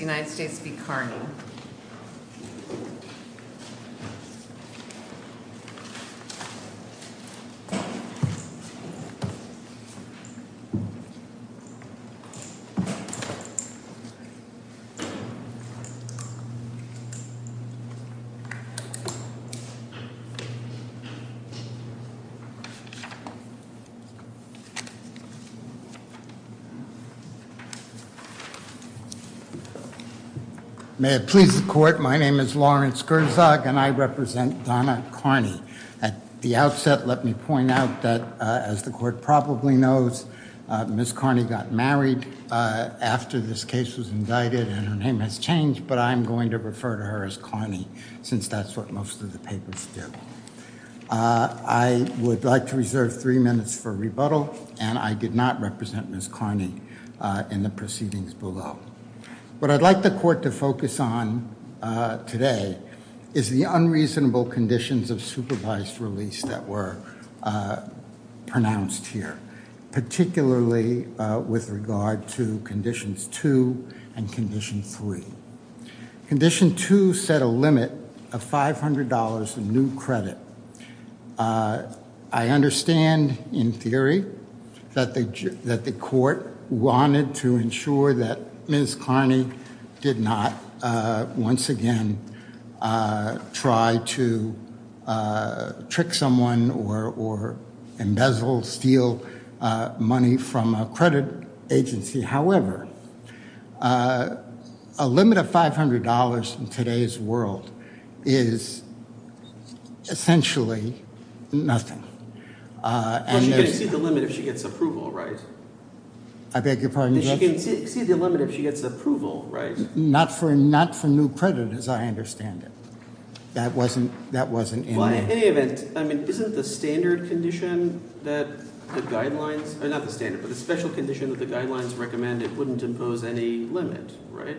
United States v. Carney. May it please the court, my name is Lawrence Gerzog and I represent Donna Carney. At the outset, let me point out that, as the court probably knows, Ms. Carney got married after this case was indicted and her name has changed, but I'm going to refer to her as Carney since that's what most of the papers do. I would like to reserve three minutes for rebuttal, and I did not represent Ms. Carney in the proceedings below. What I'd like the court to focus on today is the unreasonable conditions of supervised release that were pronounced here, particularly with regard to Conditions 2 and Condition 3. Condition 2 set a limit of $500 of new credit. I understand, in theory, that the court wanted to ensure that Ms. Carney did not once again try to trick someone or embezzle, steal money from a credit agency. However, a limit of $500 in today's world is essentially nothing. But she can exceed the limit if she gets approval, right? I beg your pardon, Judge? She can exceed the limit if she gets approval, right? Not for new credit, as I understand it. That wasn't in there. In any event, isn't the standard condition that the guidelines, not the standard, but the special condition that the guidelines recommend it wouldn't impose any limit, right,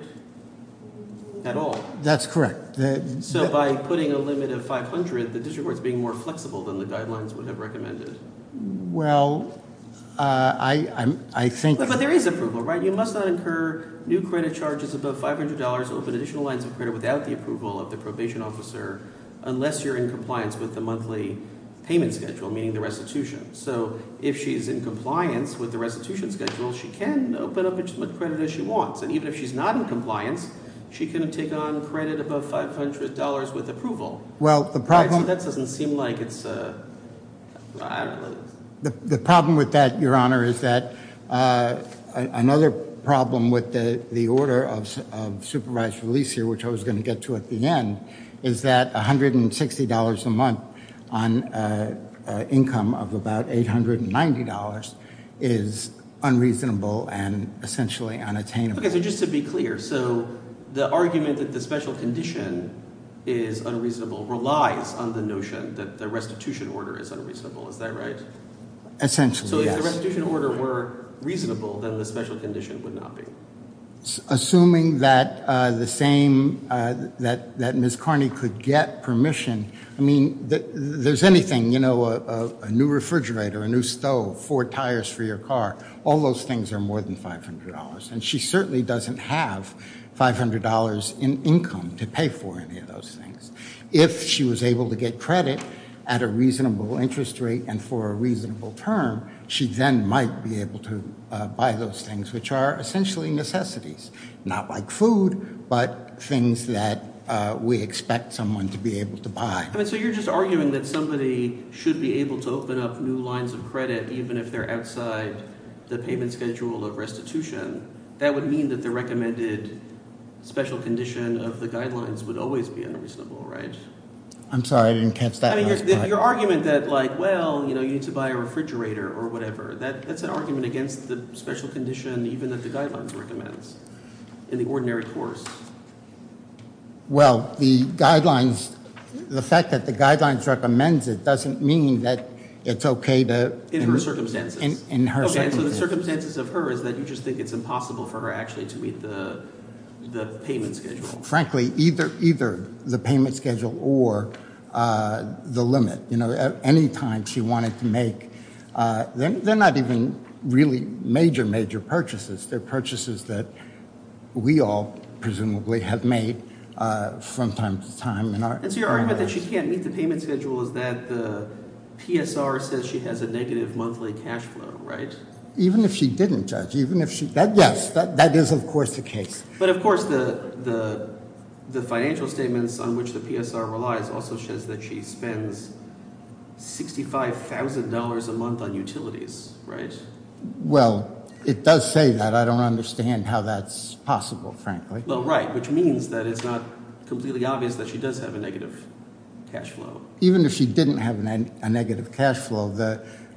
at all? That's correct. So by putting a limit of $500, the district court's being more flexible than the guidelines would have recommended. Well, I think- But there is approval, right? Well, you must not incur new credit charges above $500 or open additional lines of credit without the approval of the probation officer unless you're in compliance with the monthly payment schedule, meaning the restitution. So if she's in compliance with the restitution schedule, she can open up as much credit as she wants. And even if she's not in compliance, she can take on credit above $500 with approval. Well, the problem- That doesn't seem like it's a- The problem with that, Your Honor, is that another problem with the order of supervised release here, which I was going to get to at the end, is that $160 a month on income of about $890 is unreasonable and essentially unattainable. Okay, so just to be clear, so the argument that the special condition is unreasonable relies on the notion that the restitution order is unreasonable. Is that right? Essentially, yes. So if the restitution order were reasonable, then the special condition would not be. Assuming that the same, that Ms. Carney could get permission, I mean, there's anything, you know, a new refrigerator, a new stove, four tires for your car. All those things are more than $500. And she certainly doesn't have $500 in income to pay for any of those things. If she was able to get credit at a reasonable interest rate and for a reasonable term, she then might be able to buy those things, which are essentially necessities. Not like food, but things that we expect someone to be able to buy. So you're just arguing that somebody should be able to open up new lines of credit even if they're outside the payment schedule of restitution. That would mean that the recommended special condition of the guidelines would always be unreasonable, right? I'm sorry, I didn't catch that. I mean, your argument that, like, well, you know, you need to buy a refrigerator or whatever. That's an argument against the special condition even that the guidelines recommends in the ordinary course. Well, the guidelines, the fact that the guidelines recommends it doesn't mean that it's okay to. In her circumstances. In her circumstances. Okay, so the circumstances of her is that you just think it's impossible for her actually to meet the payment schedule. Frankly, either the payment schedule or the limit. You know, at any time she wanted to make, they're not even really major, major purchases. They're purchases that we all presumably have made from time to time. And so your argument that she can't meet the payment schedule is that the PSR says she has a negative monthly cash flow, right? Even if she didn't judge, even if she. Yes, that is, of course, the case. But, of course, the financial statements on which the PSR relies also says that she spends $65,000 a month on utilities, right? Well, it does say that. I don't understand how that's possible, frankly. Well, right, which means that it's not completely obvious that she does have a negative cash flow. Even if she didn't have a negative cash flow,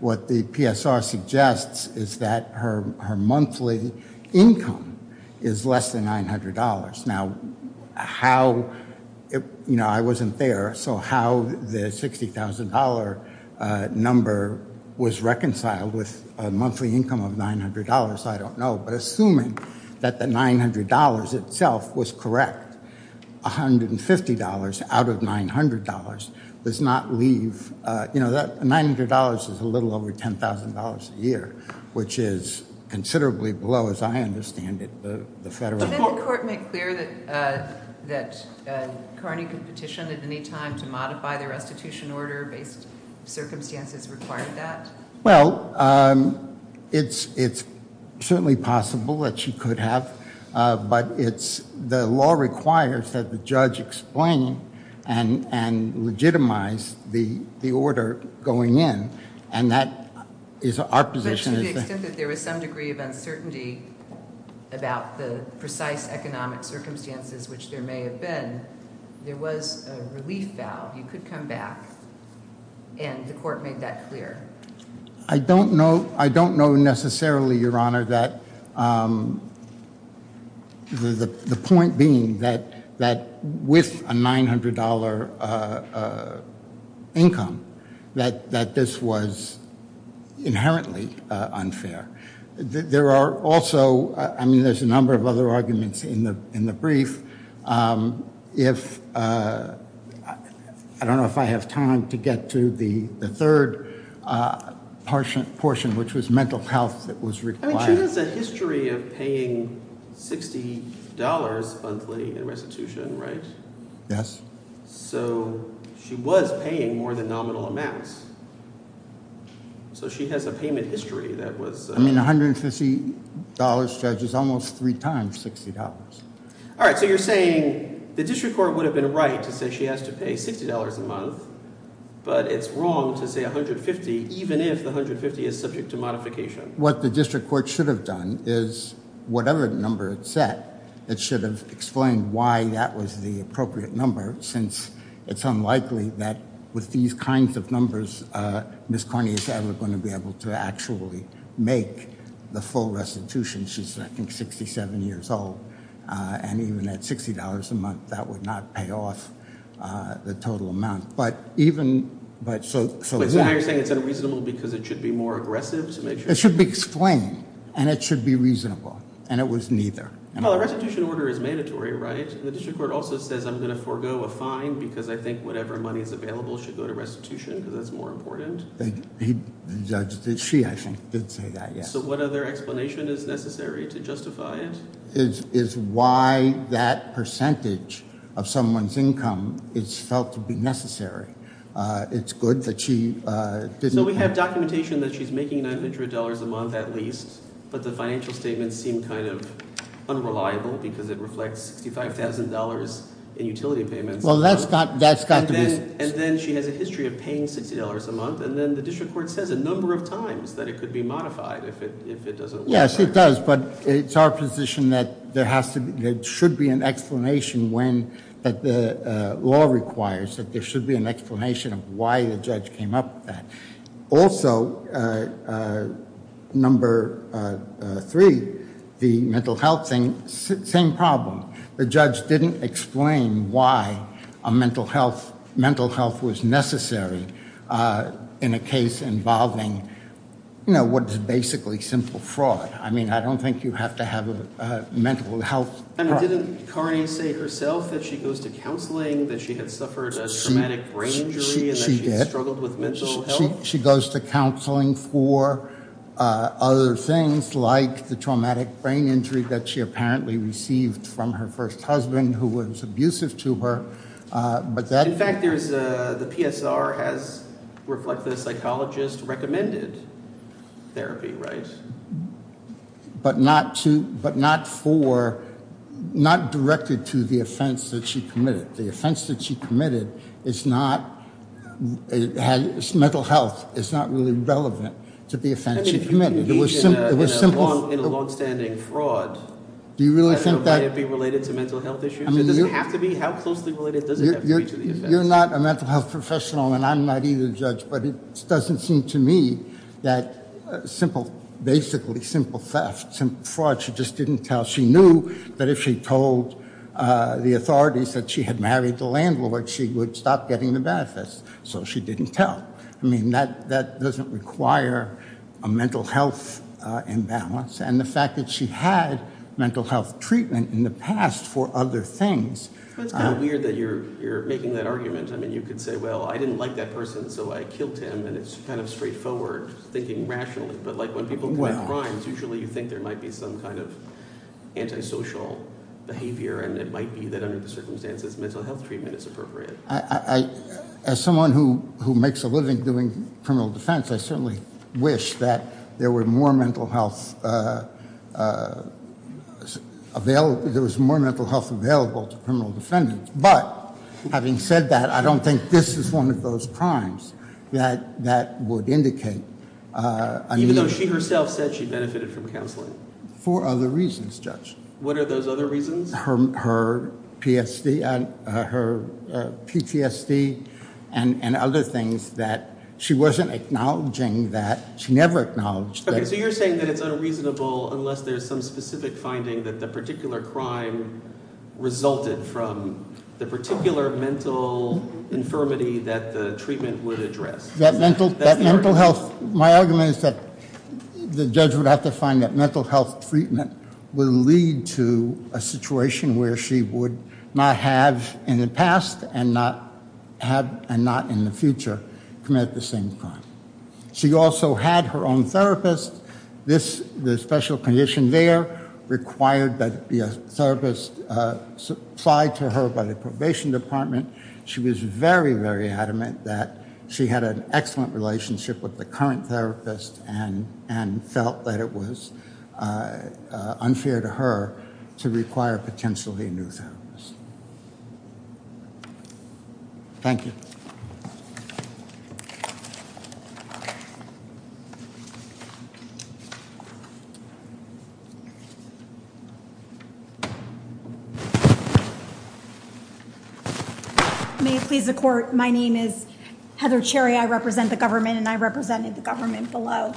what the PSR suggests is that her monthly income is less than $900. Now, how, you know, I wasn't there, so how the $60,000 number was reconciled with a monthly income of $900, I don't know. But assuming that the $900 itself was correct, $150 out of $900 does not leave, you know, that $900 is a little over $10,000 a year, which is considerably below, as I understand it, the federal. Didn't the court make clear that Carney could petition at any time to modify the restitution order based circumstances required that? Well, it's certainly possible that she could have, but the law requires that the judge explain and legitimize the order going in, and that is our position. But to the extent that there was some degree of uncertainty about the precise economic circumstances which there may have been, that there was a relief valve, you could come back, and the court made that clear. I don't know necessarily, Your Honor, that the point being that with a $900 income, that this was inherently unfair. There are also, I mean, there's a number of other arguments in the brief. If, I don't know if I have time to get to the third portion, which was mental health that was required. I mean, she has a history of paying $60 monthly in restitution, right? Yes. So she was paying more than nominal amounts. So she has a payment history that was… I mean, $150 judges almost three times $60. All right, so you're saying the district court would have been right to say she has to pay $60 a month, but it's wrong to say $150 even if the $150 is subject to modification. I think what the district court should have done is whatever number it set, it should have explained why that was the appropriate number, since it's unlikely that with these kinds of numbers, Ms. Carney is ever going to be able to actually make the full restitution. She's, I think, 67 years old, and even at $60 a month, that would not pay off the total amount. So now you're saying it's unreasonable because it should be more aggressive to make sure… It should be explained, and it should be reasonable, and it was neither. Well, a restitution order is mandatory, right? The district court also says, I'm going to forego a fine because I think whatever money is available should go to restitution because that's more important. She, I think, did say that, yes. So what other explanation is necessary to justify it? Is why that percentage of someone's income is felt to be necessary. It's good that she didn't… So we have documentation that she's making $900 a month at least, but the financial statements seem kind of unreliable because it reflects $65,000 in utility payments. Well, that's got to be… And then she has a history of paying $60 a month, and then the district court says a number of times that it could be modified if it doesn't work. Yes, it does, but it's our position that there should be an explanation when the law requires that there should be an explanation of why the judge came up with that. Also, number three, the mental health thing, same problem. The judge didn't explain why a mental health, mental health was necessary in a case involving, you know, what is basically simple fraud. I mean, I don't think you have to have a mental health… And didn't Carney say herself that she goes to counseling, that she had suffered a traumatic brain injury… She did. …and that she had struggled with mental health? Well, she goes to counseling for other things like the traumatic brain injury that she apparently received from her first husband who was abusive to her, but that… In fact, the PSR has reflected a psychologist-recommended therapy, right? But not for, not directed to the offense that she committed. The offense that she committed is not, mental health is not really relevant to the offense she committed. It was simple… In a longstanding fraud… Do you really think that… …would it be related to mental health issues? I mean, you… Does it have to be? How closely related does it have to be to the offense? You're not a mental health professional, and I'm not either, Judge, but it doesn't seem to me that simple, basically simple theft, simple fraud, she just didn't tell. She knew that if she told the authorities that she had married the landlord, she would stop getting the benefits, so she didn't tell. I mean, that doesn't require a mental health imbalance, and the fact that she had mental health treatment in the past for other things… It's kind of weird that you're making that argument. I mean, you could say, well, I didn't like that person, so I killed him, and it's kind of straightforward thinking rationally, but like when people commit crimes, usually you think there might be some kind of antisocial behavior, and it might be that under the circumstances, mental health treatment is appropriate. As someone who makes a living doing criminal defense, I certainly wish that there were more mental health available to criminal defendants, but having said that, I don't think this is one of those crimes that would indicate… Even though she herself said she benefited from counseling? For other reasons, Judge. What are those other reasons? Her PTSD and other things that she wasn't acknowledging that…she never acknowledged that. Okay, so you're saying that it's unreasonable unless there's some specific finding that the particular crime resulted from the particular mental infirmity that the treatment would address. My argument is that the judge would have to find that mental health treatment would lead to a situation where she would not have in the past and not in the future committed the same crime. She also had her own therapist. The special condition there required that there be a therapist supplied to her by the probation department. She was very, very adamant that she had an excellent relationship with the current therapist and felt that it was unfair to her to require potentially a new therapist. Thank you. May it please the court. My name is Heather Cherry. I represent the government, and I represented the government below.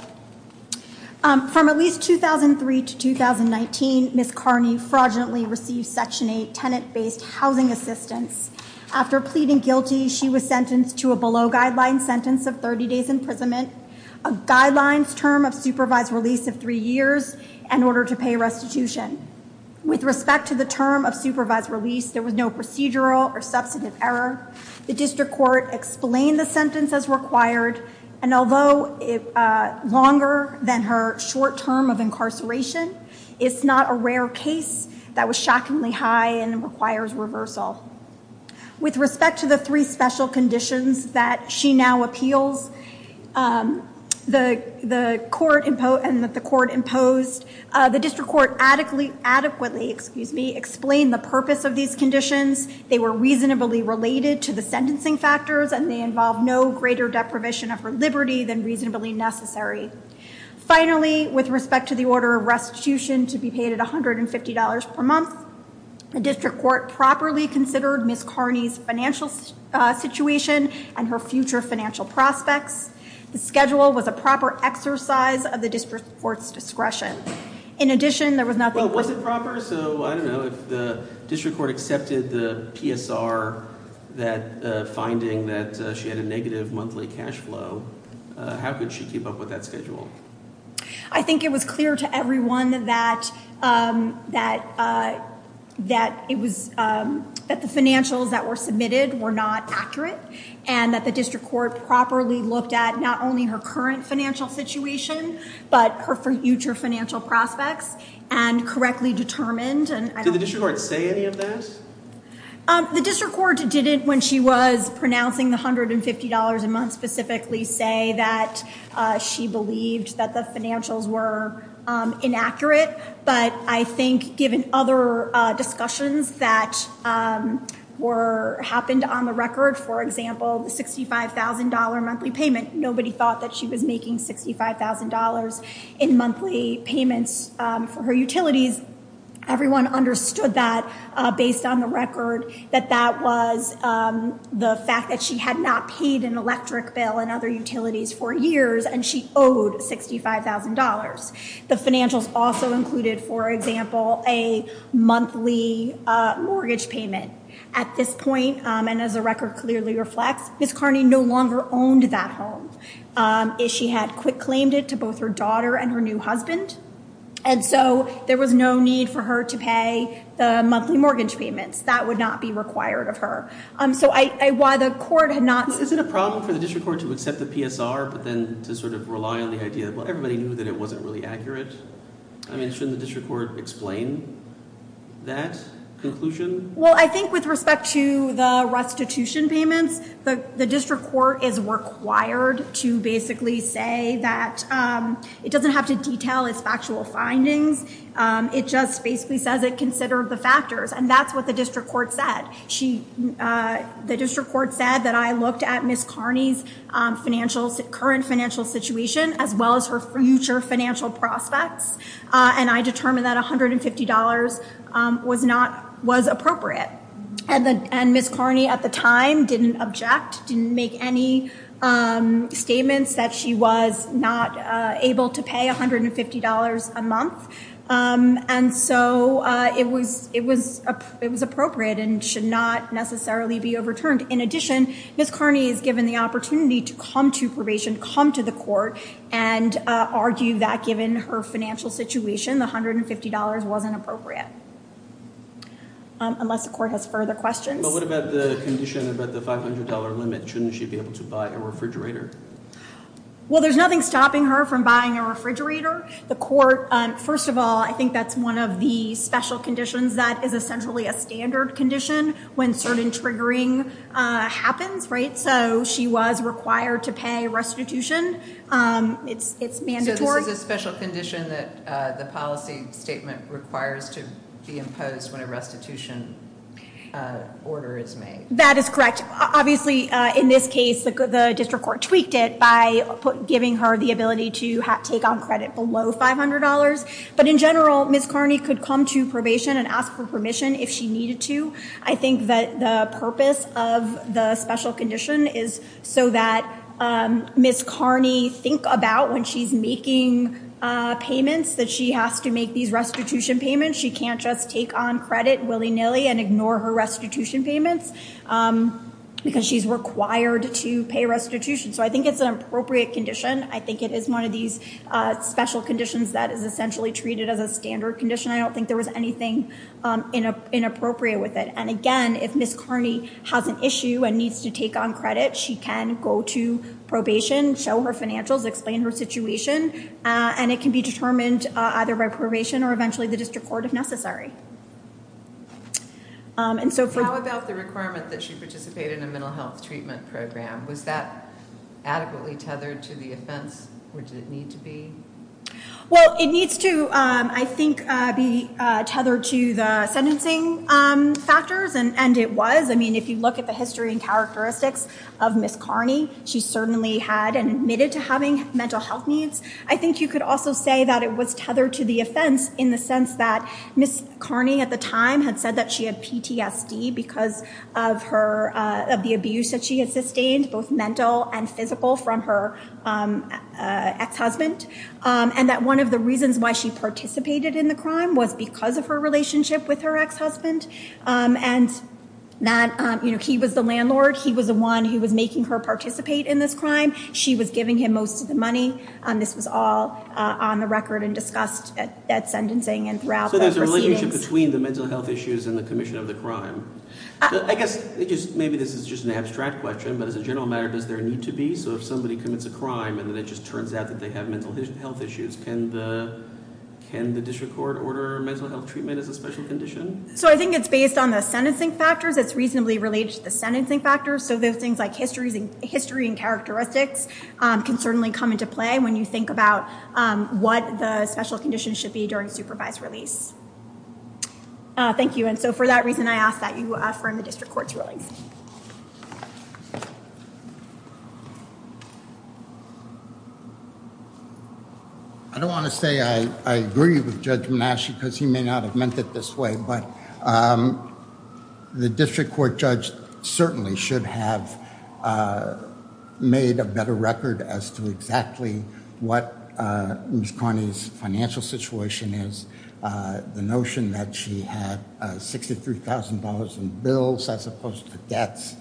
From at least 2003 to 2019, Ms. Carney fraudulently received Section 8 tenant-based housing assistance. After pleading guilty, she was sentenced to a below-guideline sentence of 30 days imprisonment, a guidelines term of supervised release of three years, and order to pay restitution. With respect to the term of supervised release, there was no procedural or substantive error. The district court explained the sentence as required, and although longer than her short term of incarceration, it's not a rare case that was shockingly high and requires reversal. With respect to the three special conditions that she now appeals and that the court imposed, the district court adequately explained the purpose of these conditions. They were reasonably related to the sentencing factors, and they involved no greater deprivation of her liberty than reasonably necessary. Finally, with respect to the order of restitution to be paid at $150 per month, the district court properly considered Ms. Carney's financial situation and her future financial prospects. The schedule was a proper exercise of the district court's discretion. Well, it wasn't proper, so I don't know. If the district court accepted the PSR finding that she had a negative monthly cash flow, how could she keep up with that schedule? I think it was clear to everyone that the financials that were submitted were not accurate, and that the district court properly looked at not only her current financial situation, but her future financial prospects, and correctly determined. Did the district court say any of that? The district court didn't, when she was pronouncing the $150 a month specifically, say that she believed that the financials were inaccurate. But I think given other discussions that happened on the record, for example, the $65,000 monthly payment, nobody thought that she was making $65,000 in monthly payments for her utilities. Everyone understood that, based on the record, that that was the fact that she had not paid an electric bill and other utilities for years, and she owed $65,000. The financials also included, for example, a monthly mortgage payment. At this point, and as the record clearly reflects, Ms. Carney no longer owned that home. She had claimed it to both her daughter and her new husband. And so there was no need for her to pay the monthly mortgage payments. That would not be required of her. Is it a problem for the district court to accept the PSR, but then to sort of rely on the idea that everybody knew that it wasn't really accurate? I mean, shouldn't the district court explain that conclusion? Well, I think with respect to the restitution payments, the district court is required to basically say that it doesn't have to detail its factual findings. It just basically says it considered the factors, and that's what the district court said. The district court said that I looked at Ms. Carney's current financial situation, as well as her future financial prospects, and I determined that $150 was appropriate. And Ms. Carney, at the time, didn't object, didn't make any statements that she was not able to pay $150 a month. And so it was appropriate and should not necessarily be overturned. In addition, Ms. Carney is given the opportunity to come to probation, come to the court, and argue that given her financial situation, the $150 wasn't appropriate. Unless the court has further questions. But what about the condition about the $500 limit? Shouldn't she be able to buy a refrigerator? Well, there's nothing stopping her from buying a refrigerator. The court, first of all, I think that's one of the special conditions that is essentially a standard condition when certain triggering happens, right? So she was required to pay restitution. It's mandatory. So this is a special condition that the policy statement requires to be imposed when a restitution order is made. That is correct. Obviously, in this case, the district court tweaked it by giving her the ability to take on credit below $500. But in general, Ms. Carney could come to probation and ask for permission if she needed to. I think that the purpose of the special condition is so that Ms. Carney thinks about when she's making payments that she has to make these restitution payments. She can't just take on credit willy-nilly and ignore her restitution payments. Because she's required to pay restitution. So I think it's an appropriate condition. I think it is one of these special conditions that is essentially treated as a standard condition. I don't think there was anything inappropriate with it. And again, if Ms. Carney has an issue and needs to take on credit, she can go to probation, show her financials, explain her situation. And it can be determined either by probation or eventually the district court if necessary. How about the requirement that she participate in a mental health treatment program? Was that adequately tethered to the offense? Or did it need to be? Well, it needs to, I think, be tethered to the sentencing factors. And it was. I mean, if you look at the history and characteristics of Ms. Carney, she certainly had and admitted to having mental health needs. I think you could also say that it was tethered to the offense in the sense that Ms. Carney at the time had said that she had PTSD because of the abuse that she had sustained, both mental and physical, from her ex-husband. And that one of the reasons why she participated in the crime was because of her relationship with her ex-husband. And he was the landlord. He was the one who was making her participate in this crime. She was giving him most of the money. This was all on the record and discussed at sentencing and throughout the proceedings. So there's a relationship between the mental health issues and the commission of the crime. I guess maybe this is just an abstract question, but as a general matter, does there need to be? So if somebody commits a crime and then it just turns out that they have mental health issues, can the district court order mental health treatment as a special condition? So I think it's based on the sentencing factors. It's reasonably related to the sentencing factors. So those things like history and characteristics can certainly come into play when you think about what the special conditions should be during supervised release. Thank you. And so for that reason, I ask that you affirm the district court's rulings. I don't want to say I agree with Judge Manasci because he may not have meant it this way, but the district court judge certainly should have made a better record as to exactly what Ms. Carney's financial situation is. The notion that she had $63,000 in bills as opposed to debts.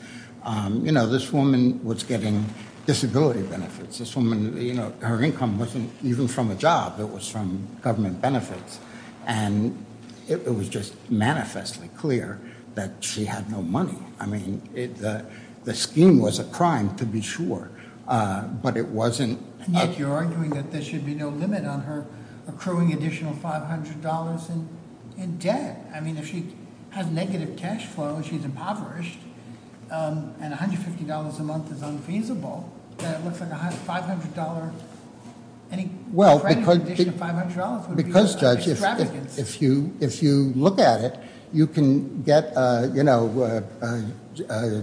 This woman was getting disability benefits. This woman, her income wasn't even from a job. It was from government benefits. And it was just manifestly clear that she had no money. I mean, the scheme was a crime to be sure, but it wasn't- You're arguing that there should be no limit on her accruing additional $500 in debt. I mean, if she has negative cash flow and she's impoverished, and $150 a month is unfeasible, then it looks like any credit in addition to $500 would be an extravagance. If you look at it, you can get, you know,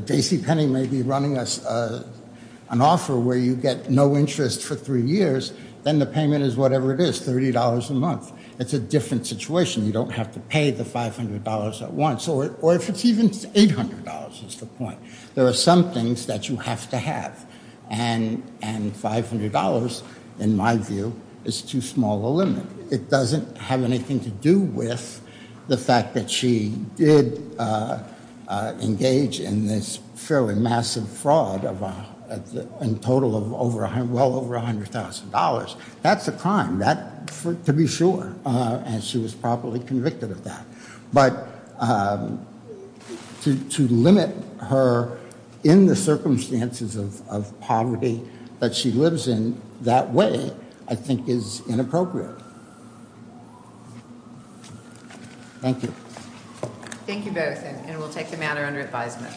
Daisy Penny may be running an offer where you get no interest for three years, then the payment is whatever it is, $30 a month. It's a different situation. You don't have to pay the $500 at once, or if it's even $800 is the point. There are some things that you have to have, and $500, in my view, is too small a limit. It doesn't have anything to do with the fact that she did engage in this fairly massive fraud in total of well over $100,000. That's a crime to be sure, and she was properly convicted of that. But to limit her in the circumstances of poverty that she lives in that way, I think, is inappropriate. Thank you. Thank you both, and we'll take the matter under advisement.